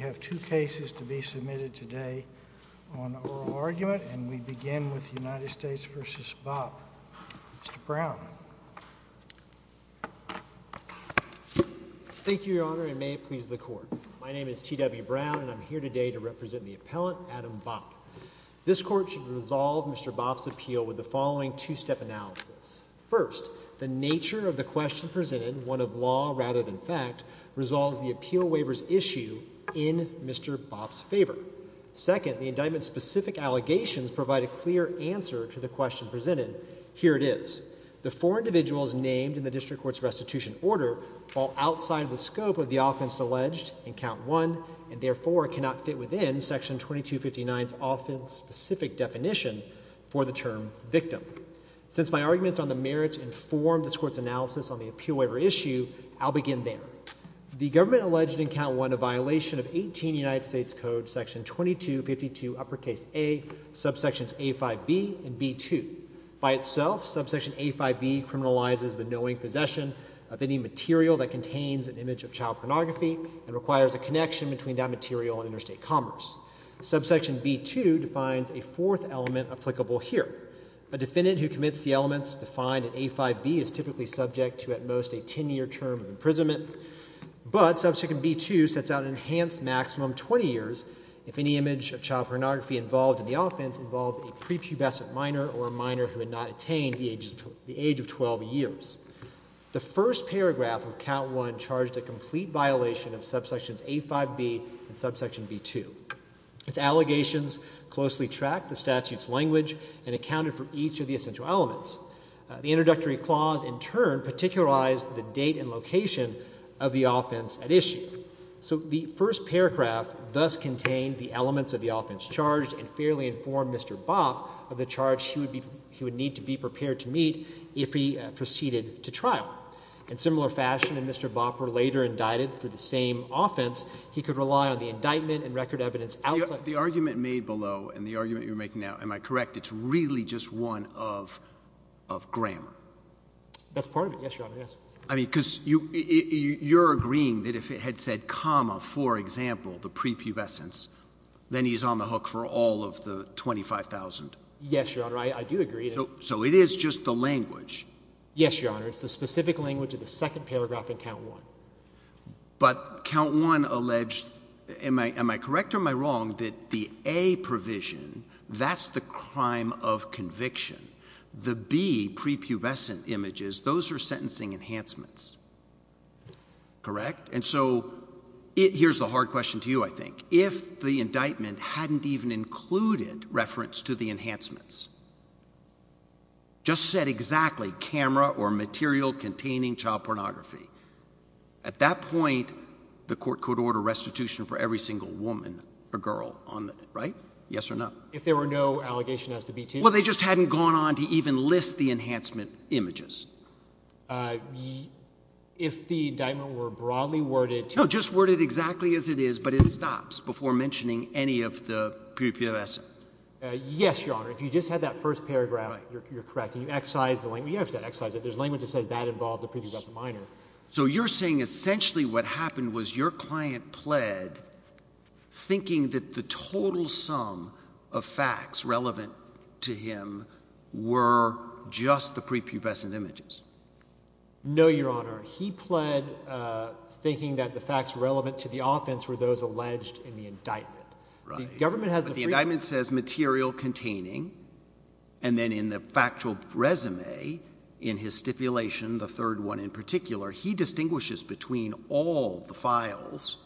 We have two cases to be submitted today on oral argument, and we begin with United States v. Bopp. Mr. Brown. Thank you, Your Honor, and may it please the Court. My name is T.W. Brown, and I'm here today to represent the appellant, Adam Bopp. This Court should resolve Mr. Bopp's appeal with the following two-step analysis. First, the nature of the question presented, one of law rather than fact, resolves the appeal waiver's issue in Mr. Bopp's favor. Second, the indictment's specific allegations provide a clear answer to the question presented. Here it is. The four individuals named in the District Court's restitution order fall outside the scope of the offense alleged in Count I, and therefore cannot fit within Section 2259's offense-specific definition for the term victim. Since my arguments on the merits inform this Court's analysis on the appeal waiver issue, I'll begin there. The government alleged in Count I a violation of 18 United States Code Section 2252, uppercase A, subsections A5b and B2. By itself, subsection A5b criminalizes the knowing possession of any material that contains an image of child pornography and requires a connection between that material and interstate commerce. Subsection B2 defines a fourth element applicable here. A defendant who commits the elements defined in A5b is typically subject to at most a 10-year term of imprisonment, but subsection B2 sets out an enhanced maximum 20 years if any image of child pornography involved in the offense involved a prepubescent minor or a minor who had not attained the age of 12 years. The first paragraph of Count I charged a complete violation of subsections A5b and subsection B2. Its allegations closely tracked the statute's language and accounted for each of the essential elements. The introductory clause, in turn, particularized the date and location of the offense at issue. So the first paragraph thus contained the elements of the offense charged and fairly informed Mr. Bopp of the charge he would need to be prepared to meet if he proceeded to trial. In similar fashion, if Mr. Bopp were later indicted for the same offense, he could rely on the indictment and record evidence outside the court. The argument made below and the argument you're making now, am I correct, it's really just one of grammar? That's part of it, yes, Your Honor, yes. I mean, because you're agreeing that if it had said comma, for example, the prepubescence, then he's on the hook for all of the 25,000? Yes, Your Honor. I do agree. So it is just the language? Yes, Your Honor. It's the specific language of the second paragraph in Count I. But Count I alleged, am I correct or am I wrong, that the A provision, that's the crime of conviction. The B prepubescent images, those are sentencing enhancements, correct? And so here's the hard question to you, I think. If the indictment hadn't even included reference to the enhancements, just said exactly camera or material containing child pornography, at that point the court could order restitution for every single woman or girl, right? Yes or no? If there were no allegation as to B2? Well, they just hadn't gone on to even list the enhancement images. If the indictment were broadly worded? No, just worded exactly as it is, but it stops before mentioning any of the prepubescent. Yes, Your Honor. If you just had that first paragraph, you're correct. You excise the language. You don't have to excise it. There's language that says that involved the prepubescent minor. So you're saying essentially what happened was your client pled, thinking that the total sum of facts relevant to him were just the prepubescent images? No, Your Honor. He pled thinking that the facts relevant to the offense were those alleged in the indictment. Right. But the indictment says material containing, and then in the factual resume in his stipulation, the third one in particular, he distinguishes between all the files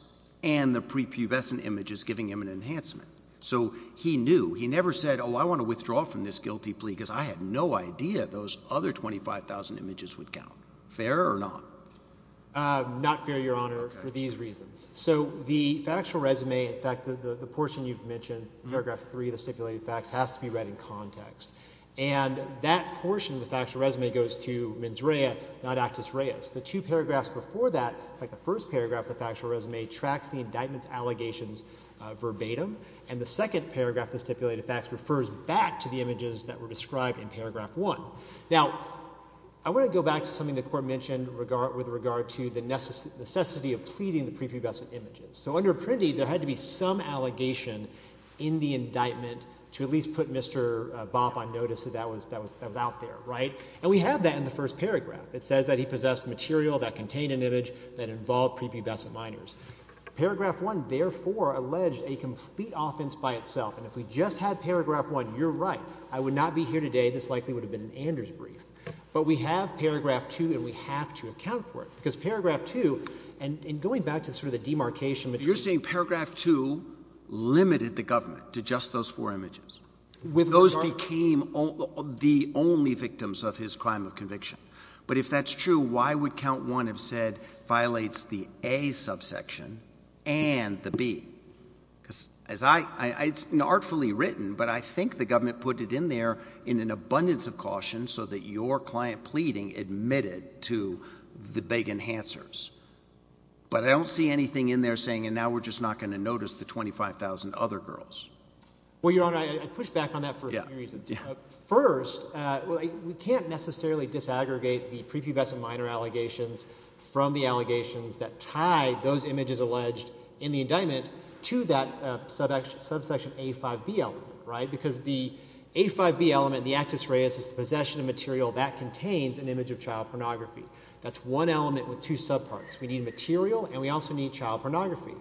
and the prepubescent images giving him an enhancement. So he knew. He never said, oh, I want to withdraw from this guilty plea because I had no idea those other 25,000 images would count. Fair or not? Not fair, Your Honor, for these reasons. So the factual resume, in fact, the portion you've mentioned, paragraph three of the stipulated facts, has to be read in context. And that portion of the factual resume goes to mens rea, not actus reus. The two paragraphs before that, like the first paragraph of the factual resume, tracks the indictment's allegations verbatim, and the second paragraph of the stipulated facts refers back to the images that were described in paragraph one. Now, I want to go back to something the Court mentioned with regard to the necessity of pleading the prepubescent images. So under Prendy, there had to be some allegation in the indictment to at least put Mr. Vop on notice that that was out there, right? And we have that in the first paragraph. It says that he possessed material that contained an image that involved prepubescent minors. Paragraph one, therefore, alleged a complete offense by itself. And if we just had paragraph one, you're right. I would not be here today. This likely would have been an Anders brief. But we have paragraph two, and we have to account for it. Because paragraph two, and going back to sort of the demarcation between— You're saying paragraph two limited the government to just those four images? With regard— Those became the only victims of his crime of conviction. But if that's true, why would count one have said violates the A subsection and the B? It's artfully written, but I think the government put it in there in an abundance of caution so that your client pleading admitted to the big enhancers. But I don't see anything in there saying, and now we're just not going to notice the 25,000 other girls. Well, Your Honor, I push back on that for a few reasons. First, we can't necessarily disaggregate the prepubescent minor allegations from the allegations that tie those images alleged in the indictment to that subsection A5B element. Because the A5B element, the actus reus, is the possession of material that contains an image of child pornography. That's one element with two subparts. We need material, and we also need child pornography.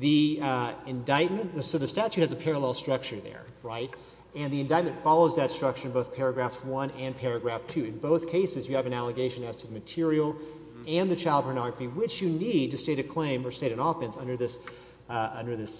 The indictment—so the statute has a parallel structure there. And the indictment follows that structure in both paragraphs one and paragraph two. In both cases, you have an allegation as to material and the child pornography, which you need to state a claim or state an offense under this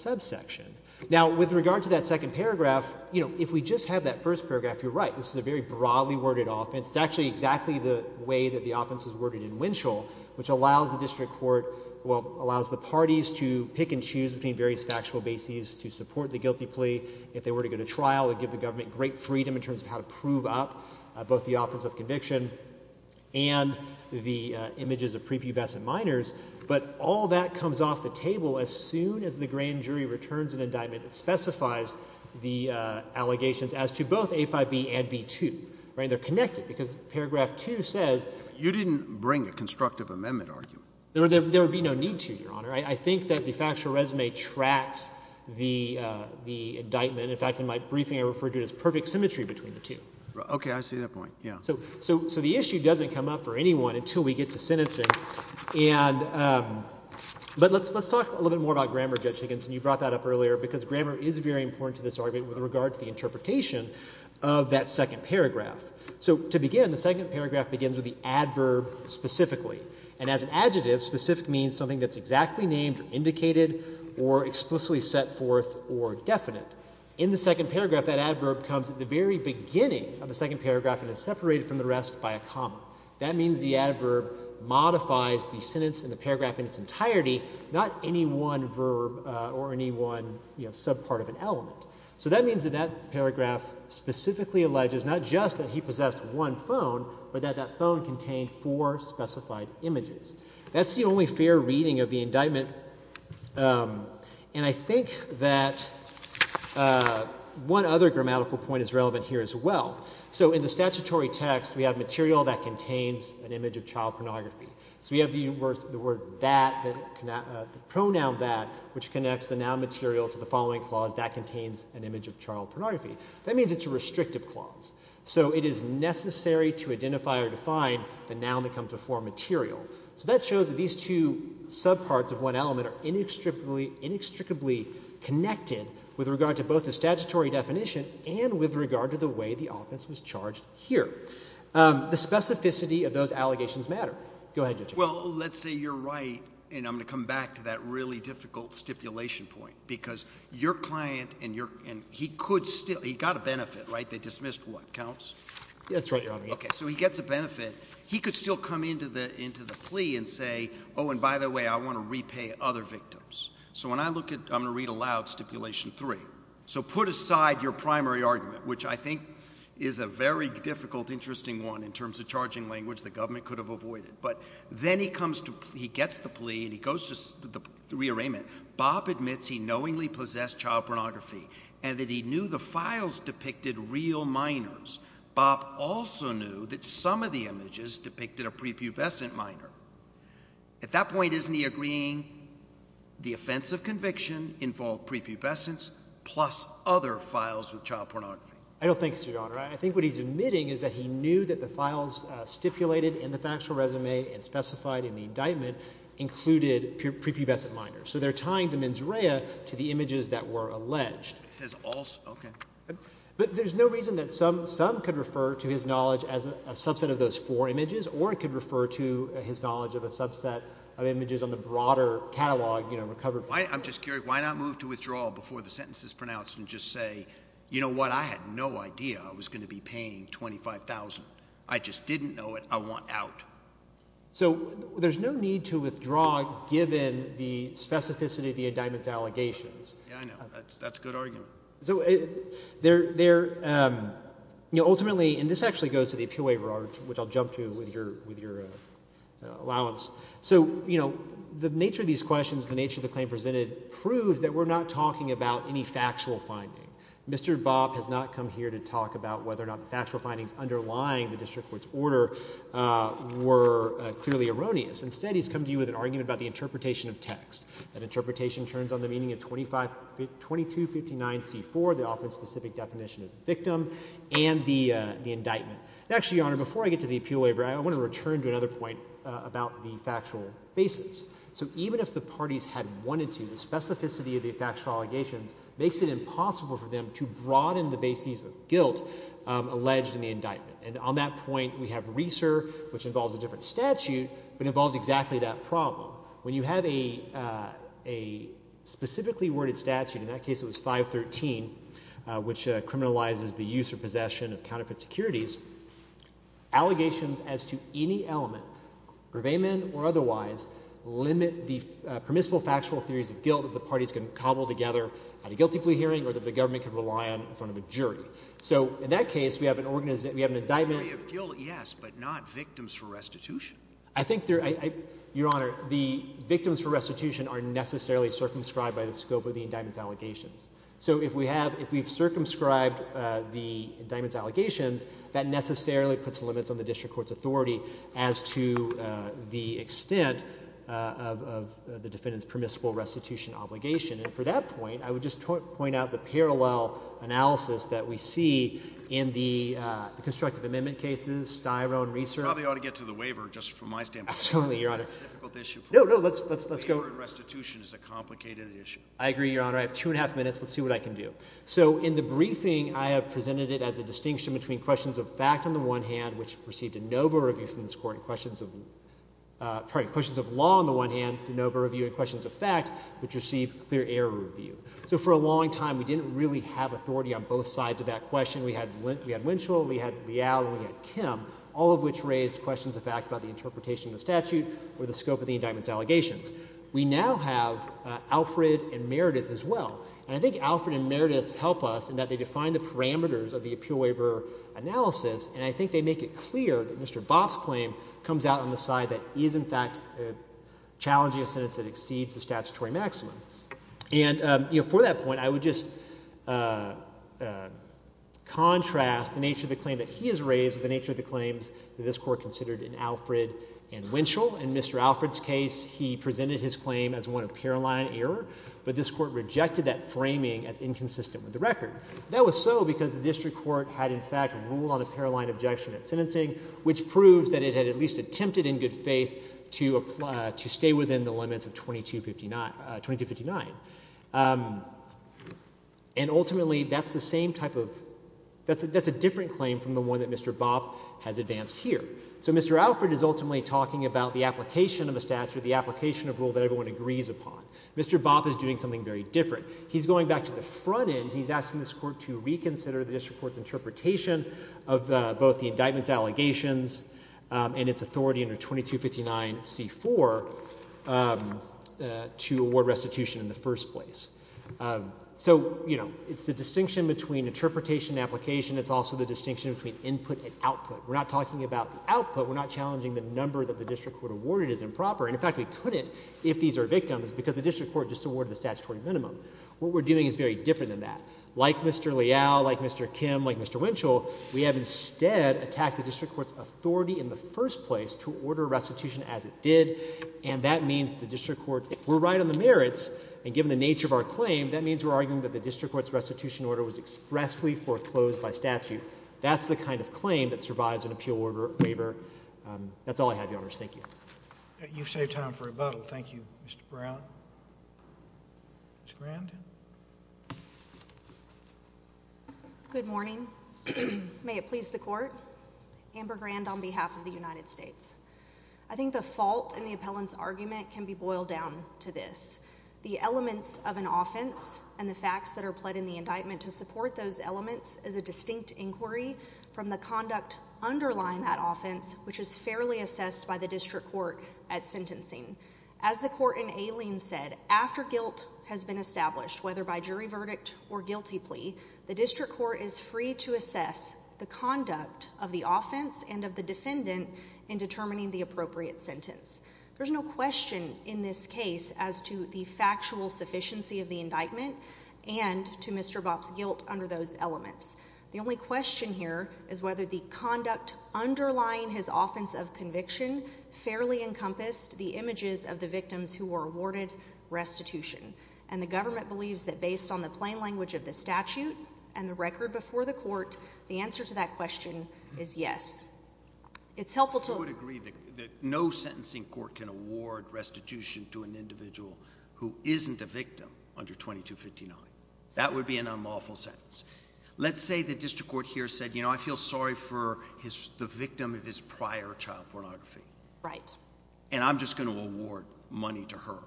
subsection. Now, with regard to that second paragraph, if we just have that first paragraph, you're right. This is a very broadly worded offense. It's actually exactly the way that the offense is worded in Winchell, which allows the district court—well, allows the parties to pick and choose between various factual bases to support the guilty plea. If they were to go to trial, it would give the government great freedom in terms of how to prove up both the offense of conviction and the images of prepubescent minors. But all that comes off the table as soon as the grand jury returns an indictment that specifies the allegations as to both A5B and B2. They're connected because paragraph two says— You didn't bring a constructive amendment argument. There would be no need to, Your Honor. I think that the factual resume tracks the indictment. In fact, in my briefing, I referred to it as perfect symmetry between the two. Okay. I see that point. Yeah. So the issue doesn't come up for anyone until we get to sentencing. And let's talk a little bit more about grammar, Judge Higgins, and you brought that up earlier because grammar is very important to this argument with regard to the interpretation of that second paragraph. So to begin, the second paragraph begins with the adverb specifically. And as an adjective, specific means something that's exactly named or indicated or explicitly set forth or definite. In the second paragraph, that adverb comes at the very beginning of the second paragraph and is separated from the rest by a comma. That means the adverb modifies the sentence in the paragraph in its entirety, not any one verb or any one subpart of an element. So that means that that paragraph specifically alleges not just that he possessed one phone but that that phone contained four specified images. That's the only fair reading of the indictment. And I think that one other grammatical point is relevant here as well. So in the statutory text, we have material that contains an image of child pornography. So we have the word that, the pronoun that, which connects the noun material to the following clause, that contains an image of child pornography. That means it's a restrictive clause. So it is necessary to identify or define the noun that comes before material. So that shows that these two subparts of one element are inextricably connected with regard to both the statutory definition and with regard to the way the offense was charged here. The specificity of those allegations matter. Go ahead, Judge. Well, let's say you're right, and I'm going to come back to that really difficult stipulation point because your client and he could still – he got a benefit, right? They dismissed what? Counts? That's right, Your Honor. Okay. So he gets a benefit. He could still come into the plea and say, oh, and by the way, I want to repay other victims. So when I look at – I'm going to read aloud stipulation three. So put aside your primary argument, which I think is a very difficult, interesting one in terms of charging language the government could have avoided. But then he comes to – he gets the plea and he goes to the rearrangement. Bob admits he knowingly possessed child pornography and that he knew the files depicted real minors. Bob also knew that some of the images depicted a prepubescent minor. At that point, isn't he agreeing the offense of conviction involved prepubescence plus other files with child pornography? I don't think so, Your Honor. I think what he's admitting is that he knew that the files stipulated in the factual resume and specified in the indictment included prepubescent minors. So they're tying the mens rea to the images that were alleged. He says also – okay. But there's no reason that some could refer to his knowledge as a subset of those four images or it could refer to his knowledge of a subset of images on the broader catalog recovered. I'm just curious. Why not move to withdraw before the sentence is pronounced and just say, you know what? I had no idea I was going to be paying $25,000. I just didn't know it. I want out. So there's no need to withdraw given the specificity of the indictment's allegations. Yeah, I know. That's a good argument. So ultimately – and this actually goes to the appeal waiver, which I'll jump to with your allowance. So the nature of these questions, the nature of the claim presented proves that we're not talking about any factual finding. Mr. Bobb has not come here to talk about whether or not the factual findings underlying the district court's order were clearly erroneous. Instead, he's come to you with an argument about the interpretation of text. That interpretation turns on the meaning of 2259C4, the often specific definition of the victim, and the indictment. Actually, Your Honor, before I get to the appeal waiver, I want to return to another point about the factual basis. So even if the parties had wanted to, the specificity of the factual allegations makes it impossible for them to broaden the basis of guilt alleged in the indictment. And on that point, we have RISR, which involves a different statute but involves exactly that problem. When you have a specifically worded statute, in that case it was 513, which criminalizes the use or possession of counterfeit securities, allegations as to any element, purveyment or otherwise, limit the permissible factual theories of guilt that the parties can cobble together at a guilty plea hearing or that the government can rely on in front of a jury. So in that case, we have an – we have an indictment. A theory of guilt, yes, but not victims for restitution. I think there – Your Honor, the victims for restitution are necessarily circumscribed by the scope of the indictment's allegations. So if we have – if we've circumscribed the indictment's allegations, that necessarily puts limits on the district court's authority as to the extent of the defendant's permissible restitution obligation. And for that point, I would just point out the parallel analysis that we see in the constructive amendment cases, Styro and RISR. I probably ought to get to the waiver just from my standpoint. Absolutely, Your Honor. It's a difficult issue for me. No, no, let's go. Waiver and restitution is a complicated issue. I agree, Your Honor. I have two and a half minutes. Let's see what I can do. So in the briefing, I have presented it as a distinction between questions of fact on the one hand, which received a NOVA review from this Court, and questions of – pardon me, questions of law on the one hand, NOVA review, and questions of fact, which received clear error review. So for a long time, we didn't really have authority on both sides of that question. We had Winchell, we had Leal, and we had Kim, all of which raised questions of fact about the interpretation of the statute or the scope of the indictment's allegations. We now have Alfred and Meredith as well. And I think Alfred and Meredith help us in that they define the parameters of the appeal waiver analysis, and I think they make it clear that Mr. Boff's claim comes out on the side that he is, in fact, challenging a sentence that exceeds the statutory maximum. And for that point, I would just contrast the nature of the claim that he has raised with the nature of the claims that this Court considered in Alfred and Winchell. In Mr. Alfred's case, he presented his claim as one of paroline error, but this Court rejected that framing as inconsistent with the record. That was so because the district court had, in fact, ruled on a paroline objection at sentencing, which proves that it had at least attempted in good faith to stay within the limits of 2259. And ultimately, that's the same type of—that's a different claim from the one that Mr. Boff has advanced here. So Mr. Alfred is ultimately talking about the application of a statute, the application of a rule that everyone agrees upon. Mr. Boff is doing something very different. He's going back to the front end. He's asking this Court to reconsider the district court's interpretation of both the indictment's allegations and its authority under 2259c4 to award restitution in the first place. So, you know, it's the distinction between interpretation and application. It's also the distinction between input and output. We're not talking about the output. We're not challenging the number that the district court awarded as improper. And, in fact, we couldn't if these are victims because the district court just awarded the statutory minimum. What we're doing is very different than that. Like Mr. Leal, like Mr. Kim, like Mr. Winchell, we have instead attacked the district court's authority in the first place to order restitution as it did, and that means the district court—if we're right on the merits and given the nature of our claim, that means we're arguing that the district court's restitution order was expressly foreclosed by statute. That's the kind of claim that survives an appeal waiver. That's all I have, Your Honors. Thank you. You've saved time for rebuttal. Thank you, Mr. Brown. Ms. Grandin. Good morning. May it please the court. Amber Grand on behalf of the United States. I think the fault in the appellant's argument can be boiled down to this. The elements of an offense and the facts that are pled in the indictment to support those elements is a distinct inquiry from the conduct underlying that offense, which is fairly assessed by the district court at sentencing. As the court in Ayling said, after guilt has been established, whether by jury verdict or guilty plea, the district court is free to assess the conduct of the offense and of the defendant in determining the appropriate sentence. There's no question in this case as to the factual sufficiency of the indictment and to Mr. Bopp's guilt under those elements. The only question here is whether the conduct underlying his offense of conviction fairly encompassed the images of the victims who were awarded restitution. And the government believes that based on the plain language of the statute and the record before the court, the answer to that question is yes. It's helpful to agree that no sentencing court can award restitution to an individual who isn't a victim under 2259. That would be an unlawful sentence. Let's say the district court here said, you know, I feel sorry for the victim of his prior child pornography. Right. And I'm just going to award money to her.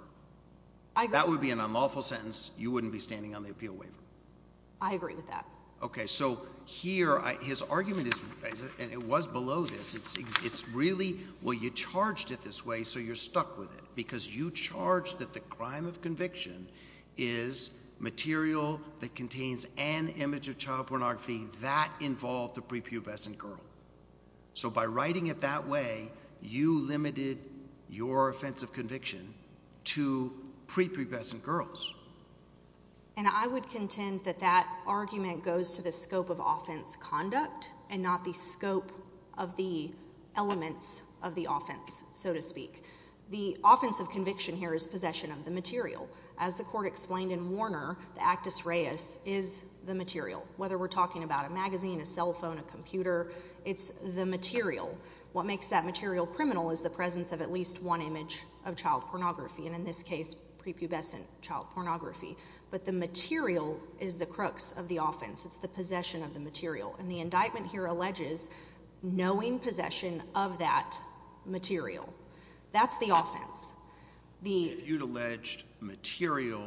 That would be an unlawful sentence. You wouldn't be standing on the appeal waiver. I agree with that. Okay, so here his argument is, and it was below this, it's really, well, you charged it this way so you're stuck with it because you charged that the crime of conviction is material that contains an image of child pornography that involved a prepubescent girl. So by writing it that way, you limited your offense of conviction to prepubescent girls. And I would contend that that argument goes to the scope of offense conduct and not the scope of the elements of the offense, so to speak. The offense of conviction here is possession of the material. As the court explained in Warner, the actus reus is the material. Whether we're talking about a magazine, a cell phone, a computer, it's the material. What makes that material criminal is the presence of at least one image of child pornography, and in this case prepubescent child pornography. But the material is the crux of the offense. It's the possession of the material. And the indictment here alleges knowing possession of that material. That's the offense. You'd allege material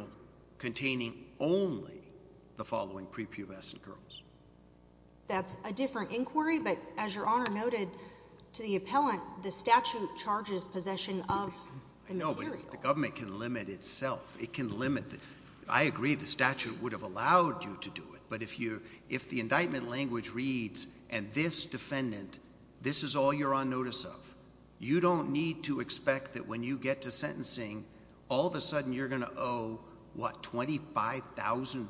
containing only the following prepubescent girls. That's a different inquiry, but as Your Honor noted to the appellant, the statute charges possession of the material. I know, but the government can limit itself. It can limit. I agree the statute would have allowed you to do it, but if the indictment language reads, and this defendant, this is all you're on notice of, you don't need to expect that when you get to sentencing, all of a sudden you're going to owe, what, 25,000?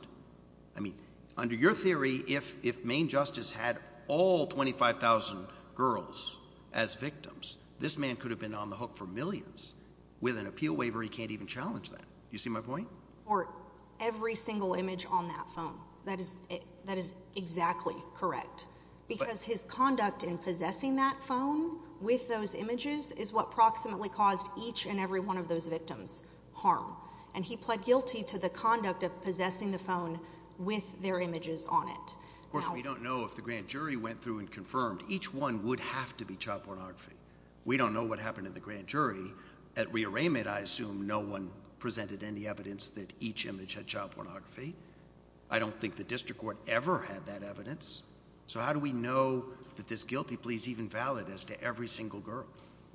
I mean, under your theory, if Maine Justice had all 25,000 girls as victims, this man could have been on the hook for millions. With an appeal waiver, he can't even challenge that. Do you see my point? Every single image on that phone. That is exactly correct. Because his conduct in possessing that phone with those images is what approximately caused each and every one of those victims harm. And he pled guilty to the conduct of possessing the phone with their images on it. Of course, we don't know if the grand jury went through and confirmed. Each one would have to be child pornography. We don't know what happened to the grand jury. At rearrangement, I assume no one presented any evidence that each image had child pornography. I don't think the district court ever had that evidence. So how do we know that this guilty plea is even valid as to every single girl?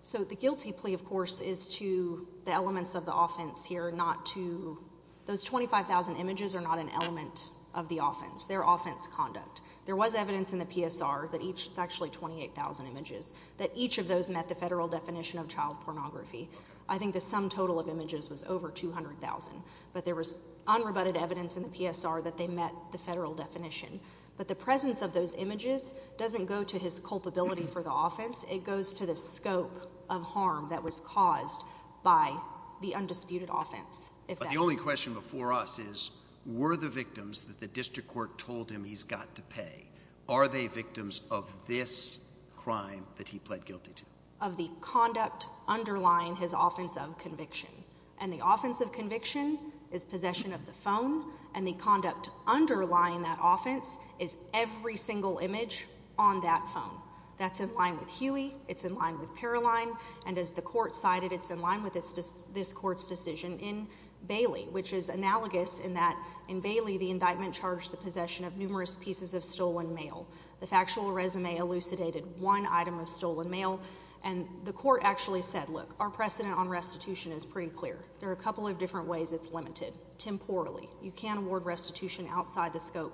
So the guilty plea, of course, is to the elements of the offense here, not to those 25,000 images are not an element of the offense. They're offense conduct. There was evidence in the PSR that each, it's actually 28,000 images, that each of those met the federal definition of child pornography. I think the sum total of images was over 200,000. But there was unrebutted evidence in the PSR that they met the federal definition. But the presence of those images doesn't go to his culpability for the offense. It goes to the scope of harm that was caused by the undisputed offense. But the only question before us is were the victims that the district court told him he's got to pay, are they victims of this crime that he pled guilty to? Of the conduct underlying his offense of conviction. And the offense of conviction is possession of the phone, and the conduct underlying that offense is every single image on that phone. That's in line with Huey. It's in line with Paroline. And as the court cited, it's in line with this court's decision in Bailey, which is analogous in that in Bailey the indictment charged the possession of numerous pieces of stolen mail. The factual resume elucidated one item of stolen mail. And the court actually said, look, our precedent on restitution is pretty clear. There are a couple of different ways it's limited. Temporally, you can award restitution outside the scope,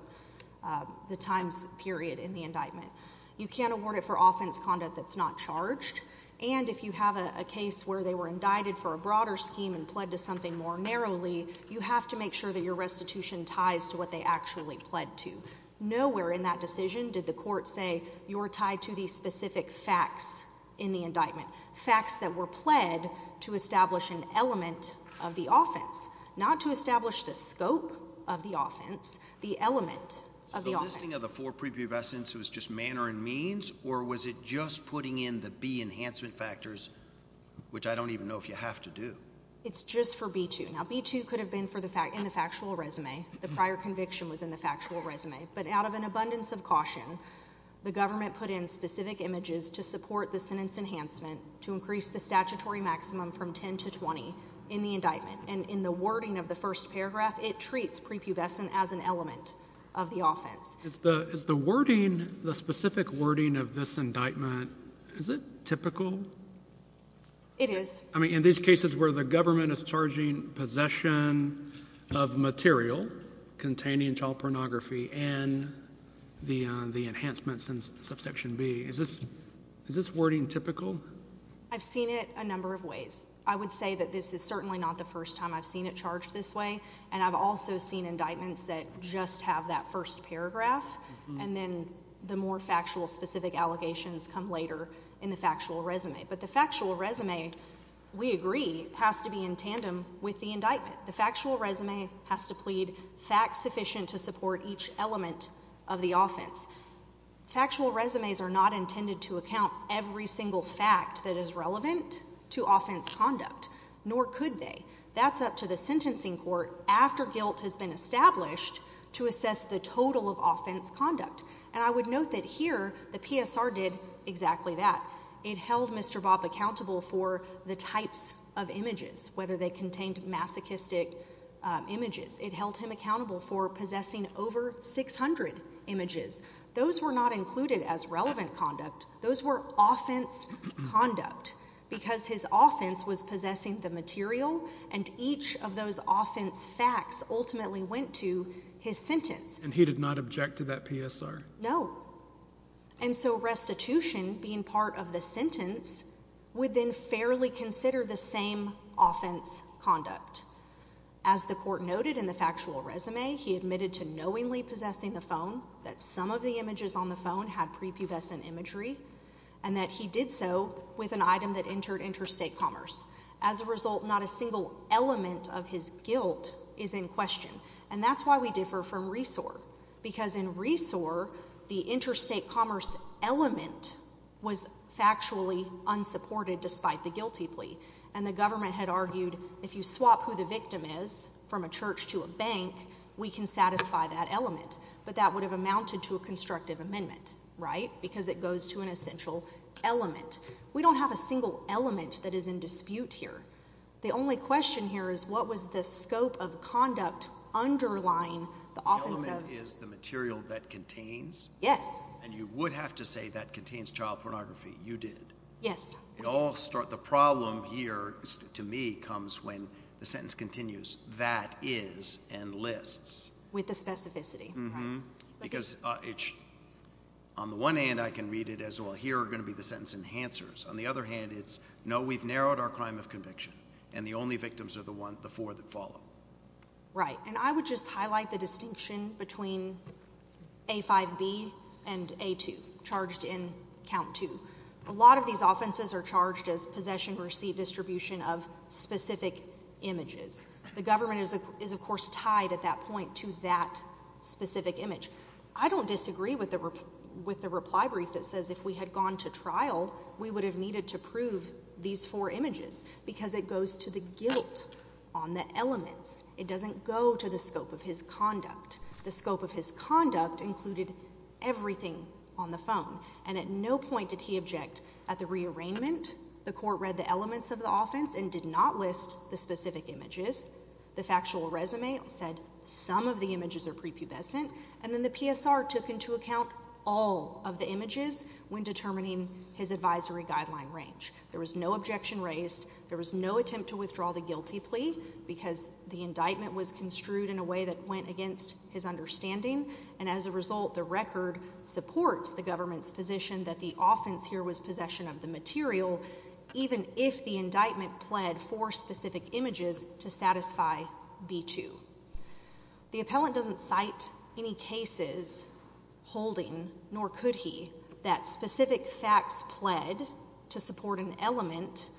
the time period in the indictment. You can't award it for offense conduct that's not charged. And if you have a case where they were indicted for a broader scheme and pled to something more narrowly, you have to make sure that your restitution ties to what they actually pled to. Nowhere in that decision did the court say you're tied to these specific facts in the indictment, facts that were pled to establish an element of the offense, not to establish the scope of the offense, the element of the offense. The listing of the four prepubescents was just manner and means, or was it just putting in the B enhancement factors, which I don't even know if you have to do? It's just for B-2. Now, B-2 could have been in the factual resume. The prior conviction was in the factual resume. But out of an abundance of caution, the government put in specific images to support the sentence enhancement to increase the statutory maximum from 10 to 20 in the indictment. And in the wording of the first paragraph, it treats prepubescent as an element of the offense. Is the wording, the specific wording of this indictment, is it typical? It is. I mean, in these cases where the government is charging possession of material containing child pornography and the enhancements in subsection B, is this wording typical? I've seen it a number of ways. I would say that this is certainly not the first time I've seen it charged this way, and I've also seen indictments that just have that first paragraph, and then the more factual specific allegations come later in the factual resume. But the factual resume, we agree, has to be in tandem with the indictment. The factual resume has to plead facts sufficient to support each element of the offense. Factual resumes are not intended to account every single fact that is relevant to offense conduct, nor could they. That's up to the sentencing court, after guilt has been established, to assess the total of offense conduct. And I would note that here the PSR did exactly that. It held Mr. Bob accountable for the types of images, whether they contained masochistic images. It held him accountable for possessing over 600 images. Those were not included as relevant conduct. Those were offense conduct because his offense was possessing the material, and each of those offense facts ultimately went to his sentence. And he did not object to that PSR? No. And so restitution, being part of the sentence, would then fairly consider the same offense conduct. As the court noted in the factual resume, he admitted to knowingly possessing the phone, that some of the images on the phone had prepubescent imagery, and that he did so with an item that entered interstate commerce. As a result, not a single element of his guilt is in question. And that's why we differ from Resor, because in Resor, the interstate commerce element was factually unsupported despite the guilty plea. And the government had argued if you swap who the victim is from a church to a bank, we can satisfy that element. But that would have amounted to a constructive amendment, right? Because it goes to an essential element. We don't have a single element that is in dispute here. The only question here is what was the scope of conduct underlying the offense of? The element is the material that contains? Yes. And you would have to say that contains child pornography. You did. Yes. The problem here to me comes when the sentence continues, that is, and lists. With the specificity, right? Because on the one hand, I can read it as, well, here are going to be the sentence enhancers. On the other hand, it's, no, we've narrowed our crime of conviction, and the only victims are the four that follow. Right. And I would just highlight the distinction between A5B and A2, charged in count two. A lot of these offenses are charged as possession, receipt, distribution of specific images. The government is, of course, tied at that point to that specific image. I don't disagree with the reply brief that says if we had gone to trial, we would have needed to prove these four images, because it goes to the guilt on the elements. It doesn't go to the scope of his conduct. The scope of his conduct included everything on the phone. And at no point did he object at the rearrangement. The court read the elements of the offense and did not list the specific images. The factual resume said some of the images are prepubescent. And then the PSR took into account all of the images when determining his advisory guideline range. There was no objection raised. There was no attempt to withdraw the guilty plea because the indictment was construed in a way that went against his understanding. And as a result, the record supports the government's position that the offense here was possession of the material, even if the indictment pled for specific images to satisfy B2. The appellant doesn't cite any cases holding, nor could he, that specific facts pled to support an element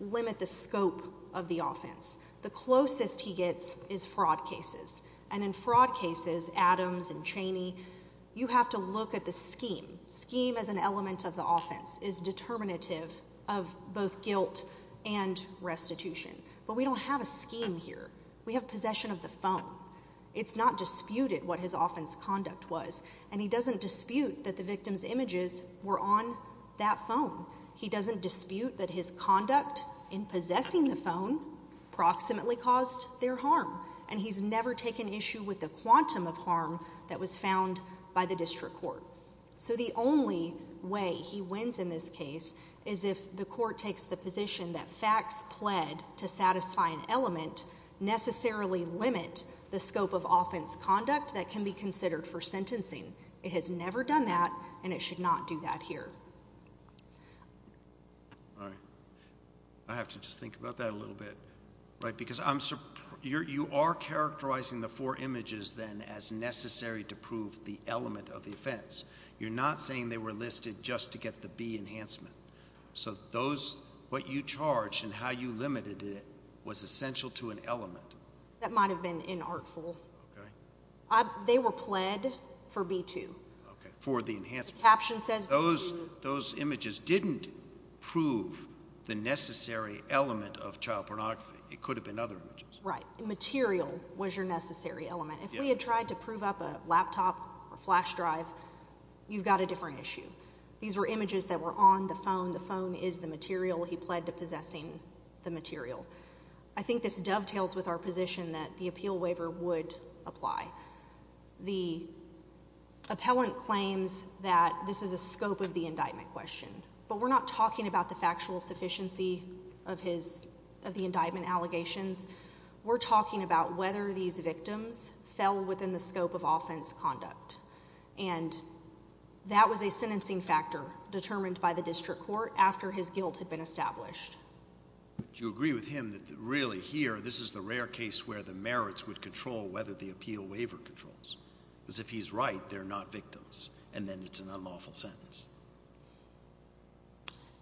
limit the scope of the offense. The closest he gets is fraud cases. And in fraud cases, Adams and Chaney, you have to look at the scheme. Scheme as an element of the offense is determinative of both guilt and restitution. But we don't have a scheme here. We have possession of the phone. It's not disputed what his offense conduct was. And he doesn't dispute that the victim's images were on that phone. He doesn't dispute that his conduct in possessing the phone proximately caused their harm. And he's never taken issue with the quantum of harm that was found by the district court. So the only way he wins in this case is if the court takes the position that facts pled to satisfy an element necessarily limit the scope of offense conduct that can be considered for sentencing. It has never done that, and it should not do that here. All right. I have to just think about that a little bit. Right, because you are characterizing the four images then as necessary to prove the element of the offense. You're not saying they were listed just to get the B enhancement. So what you charged and how you limited it was essential to an element. That might have been inartful. Okay. They were pled for B2. Okay, for the enhancement. Those images didn't prove the necessary element of child pornography. It could have been other images. Right. Material was your necessary element. If we had tried to prove up a laptop or flash drive, you've got a different issue. These were images that were on the phone. The phone is the material. He pled to possessing the material. I think this dovetails with our position that the appeal waiver would apply. The appellant claims that this is a scope of the indictment question, but we're not talking about the factual sufficiency of the indictment allegations. We're talking about whether these victims fell within the scope of offense conduct, and that was a sentencing factor determined by the district court after his guilt had been established. Do you agree with him that, really, here, this is the rare case where the merits would control whether the appeal waiver controls? Because if he's right, they're not victims, and then it's an unlawful sentence.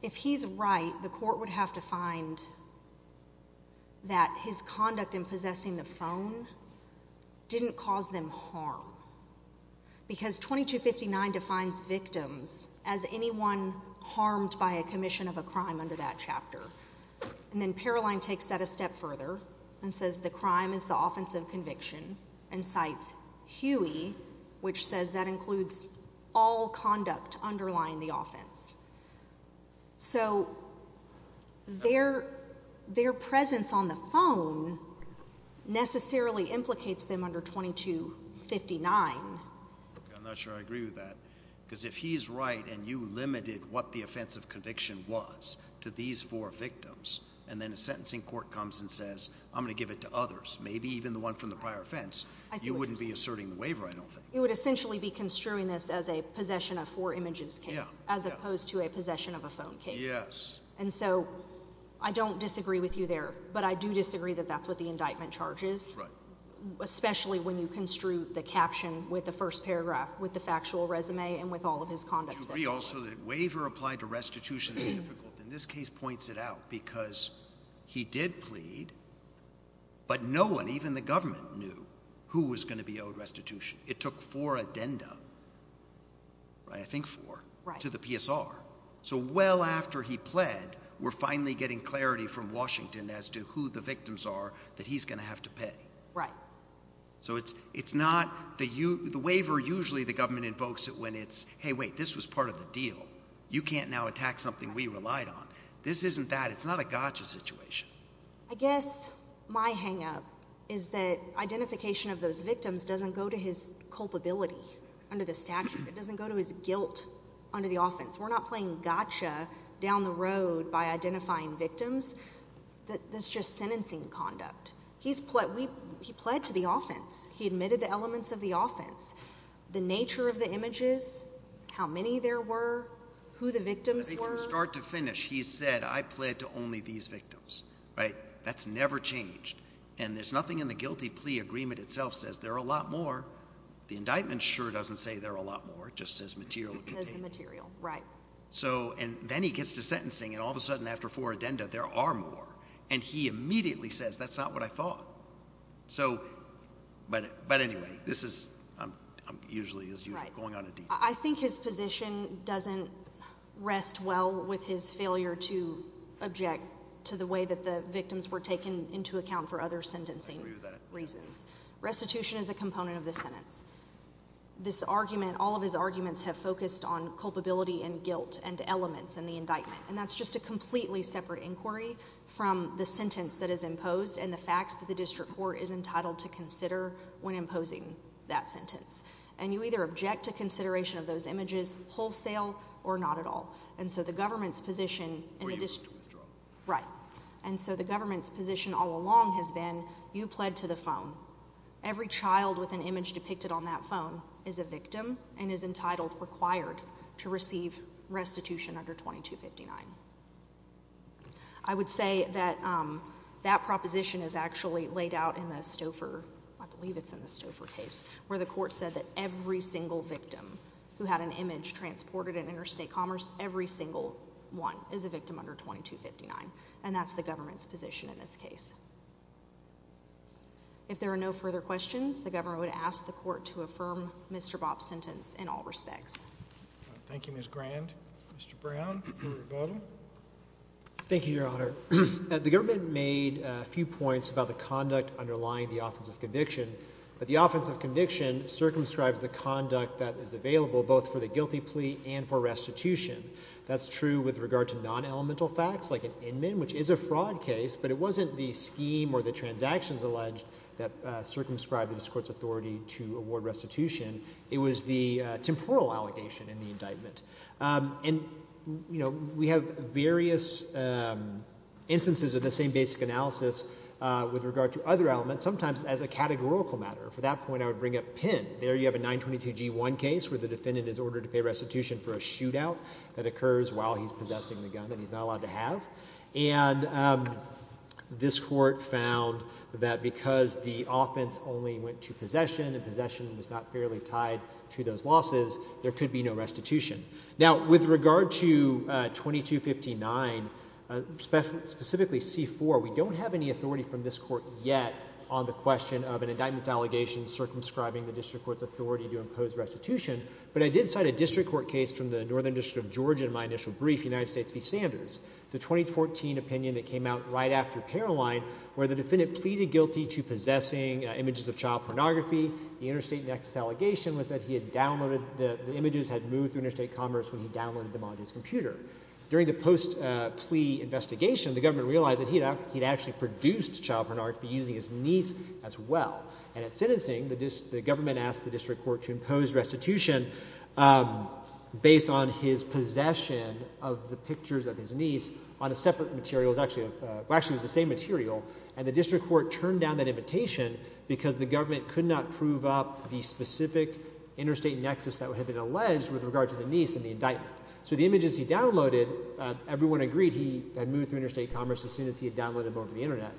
If he's right, the court would have to find that his conduct in possessing the phone didn't cause them harm, because 2259 defines victims as anyone harmed by a commission of a crime under that chapter. And then Paroline takes that a step further and says the crime is the offense of conviction and cites Huey, which says that includes all conduct underlying the offense. So their presence on the phone necessarily implicates them under 2259. I'm not sure I agree with that, because if he's right, and you limited what the offense of conviction was to these four victims, and then a sentencing court comes and says, I'm going to give it to others, maybe even the one from the prior offense, you wouldn't be asserting the waiver, I don't think. You would essentially be construing this as a possession of four images case, as opposed to a possession of a phone case. Yes. And so I don't disagree with you there, but I do disagree that that's what the indictment charges, especially when you construe the caption with the first paragraph, with the factual resume and with all of his conduct. You agree also that waiver applied to restitution is difficult. And this case points it out, because he did plead, but no one, even the government, knew who was going to be owed restitution. It took four addenda, right, I think four, to the PSR. So well after he pled, we're finally getting clarity from Washington as to who the victims are that he's going to have to pay. Right. So it's not the waiver usually the government invokes when it's, hey, wait, this was part of the deal. You can't now attack something we relied on. This isn't that. It's not a gotcha situation. I guess my hangup is that identification of those victims doesn't go to his culpability under the statute. It doesn't go to his guilt under the offense. We're not playing gotcha down the road by identifying victims. That's just sentencing conduct. He pled to the offense. He admitted the elements of the offense, the nature of the images, how many there were, who the victims were. From start to finish, he said, I pled to only these victims. That's never changed. And there's nothing in the guilty plea agreement itself says there are a lot more. The indictment sure doesn't say there are a lot more. It just says material. It says the material. Right. And then he gets to sentencing, and all of a sudden after four addenda, there are more. And he immediately says, that's not what I thought. But anyway, this is, I'm usually going on a detour. I think his position doesn't rest well with his failure to object to the way that the victims were taken into account for other sentencing reasons. Restitution is a component of this sentence. This argument, all of his arguments have focused on culpability and guilt and elements in the indictment. And that's just a completely separate inquiry from the sentence that is imposed and the facts that the district court is entitled to consider when imposing that sentence. And you either object to consideration of those images wholesale or not at all. And so the government's position in the district. Right. And so the government's position all along has been you pled to the phone. Every child with an image depicted on that phone is a victim and is entitled, required, to receive restitution under 2259. I would say that that proposition is actually laid out in the Stouffer, I believe it's in the Stouffer case, where the court said that every single victim who had an image transported in interstate commerce, every single one is a victim under 2259. And that's the government's position in this case. If there are no further questions, the government would ask the court to affirm Mr. Bobb's sentence in all respects. Thank you, Ms. Grand. Mr. Brown, your rebuttal. Thank you, Your Honor. The government made a few points about the conduct underlying the offense of conviction, but the offense of conviction circumscribes the conduct that is available both for the guilty plea and for restitution. That's true with regard to non-elemental facts like an inman, which is a fraud case, but it wasn't the scheme or the transactions alleged that circumscribed this court's authority to award restitution. It was the temporal allegation in the indictment. And, you know, we have various instances of the same basic analysis with regard to other elements, sometimes as a categorical matter. For that point, I would bring up Penn. There you have a 922G1 case where the defendant is ordered to pay restitution for a shootout that occurs while he's possessing the gun that he's not allowed to have. And this court found that because the offense only went to possession and possession was not fairly tied to those losses, there could be no restitution. Now, with regard to 2259, specifically C-4, we don't have any authority from this court yet on the question of an indictment's allegation circumscribing the district court's authority to impose restitution, but I did cite a district court case from the Northern District of Georgia in my initial brief, United States v. Sanders. It's a 2014 opinion that came out right after Paroline, where the defendant pleaded guilty to possessing images of child pornography. The interstate nexus allegation was that he had downloaded the images, had moved through interstate commerce when he downloaded them on his computer. During the post-plea investigation, the government realized that he had actually produced child pornography using his niece as well. And at sentencing, the government asked the district court to impose restitution based on his possession of the pictures of his niece on a separate material. Well, actually, it was the same material. And the district court turned down that invitation because the government could not prove up the specific interstate nexus that had been alleged with regard to the niece in the indictment. So the images he downloaded, everyone agreed he had moved through interstate commerce as soon as he had downloaded them over the internet.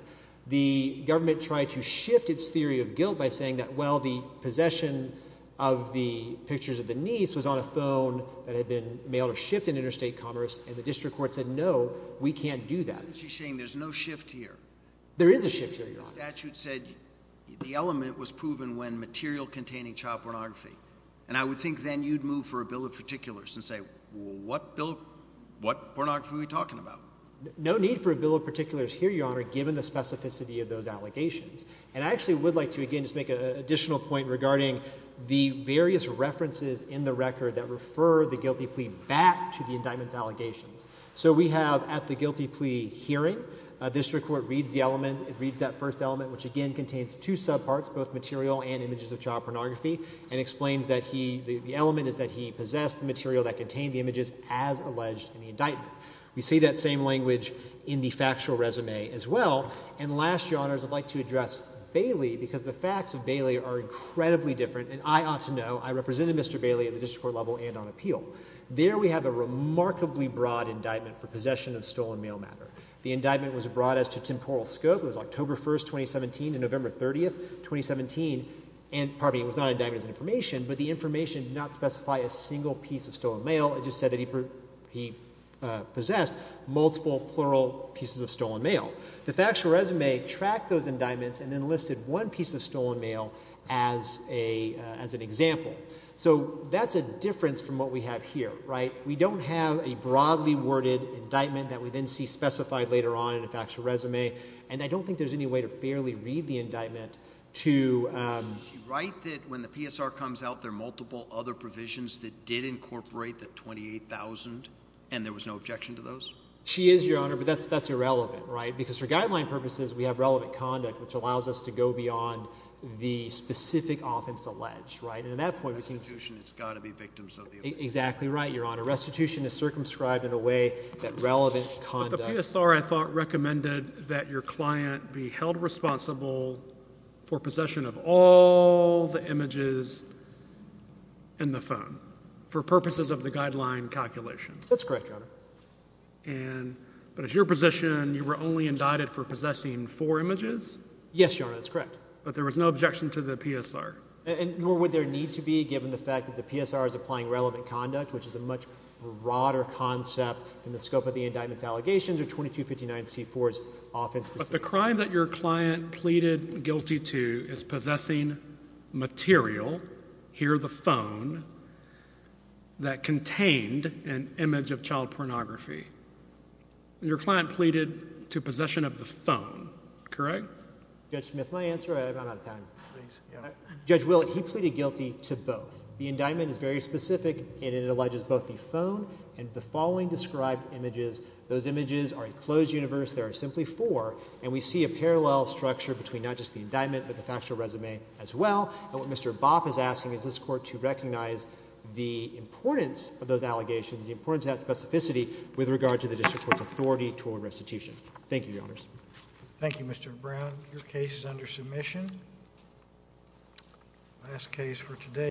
The government tried to shift its theory of guilt by saying that, well, the possession of the pictures of the niece was on a phone that had been mailed or shipped in interstate commerce, and the district court said, no, we can't do that. Isn't she saying there's no shift here? There is a shift here, Your Honor. The statute said the element was proven when material containing child pornography. And I would think then you'd move for a bill of particulars and say, well, what bill, what pornography are we talking about? No need for a bill of particulars here, Your Honor, given the specificity of those allegations. And I actually would like to, again, just make an additional point regarding the various references in the record that refer the guilty plea back to the indictment's allegations. So we have at the guilty plea hearing, district court reads the element, it reads that first element, which again contains two subparts, both material and images of child pornography, and explains that the element is that he possessed the material that contained the images as alleged in the indictment. We see that same language in the factual resume as well. And last, Your Honors, I'd like to address Bailey because the facts of Bailey are incredibly different, and I ought to know, I represented Mr. Bailey at the district court level and on appeal. There we have a remarkably broad indictment for possession of stolen mail matter. The indictment was broad as to temporal scope. It was October 1, 2017 to November 30, 2017. And pardon me, it was not an indictment as an information, but the information did not specify a single piece of stolen mail. It just said that he possessed multiple plural pieces of stolen mail. The factual resume tracked those indictments and then listed one piece of stolen mail as an example. So that's a difference from what we have here. We don't have a broadly worded indictment that we then see specified later on in a factual resume, and I don't think there's any way to fairly read the indictment to— Is she right that when the PSR comes out, there are multiple other provisions that did incorporate the $28,000, and there was no objection to those? She is, Your Honor, but that's irrelevant because for guideline purposes we have relevant conduct, which allows us to go beyond the specific offense alleged. That's right, and at that point— Restitution has got to be victims of the offense. Exactly right, Your Honor. Restitution is circumscribed in a way that relevant conduct— But the PSR, I thought, recommended that your client be held responsible for possession of all the images in the phone for purposes of the guideline calculation. That's correct, Your Honor. But as your position, you were only indicted for possessing four images? Yes, Your Honor, that's correct. But there was no objection to the PSR? Nor would there need to be given the fact that the PSR is applying relevant conduct, which is a much broader concept in the scope of the indictment's allegations, or 2259-C-4's offense. But the crime that your client pleaded guilty to is possessing material, here the phone, that contained an image of child pornography. Your client pleaded to possession of the phone, correct? Judge Smith, my answer? I'm out of time. Judge Willett, he pleaded guilty to both. The indictment is very specific, and it alleges both the phone and the following described images. Those images are a closed universe, there are simply four, and we see a parallel structure between not just the indictment but the factual resume as well. And what Mr. Bopp is asking is this Court to recognize the importance of those allegations, the importance of that specificity, with regard to the District Court's authority toward restitution. Thank you, Your Honors. Thank you, Mr. Brown. Your case is under submission. Last case for today.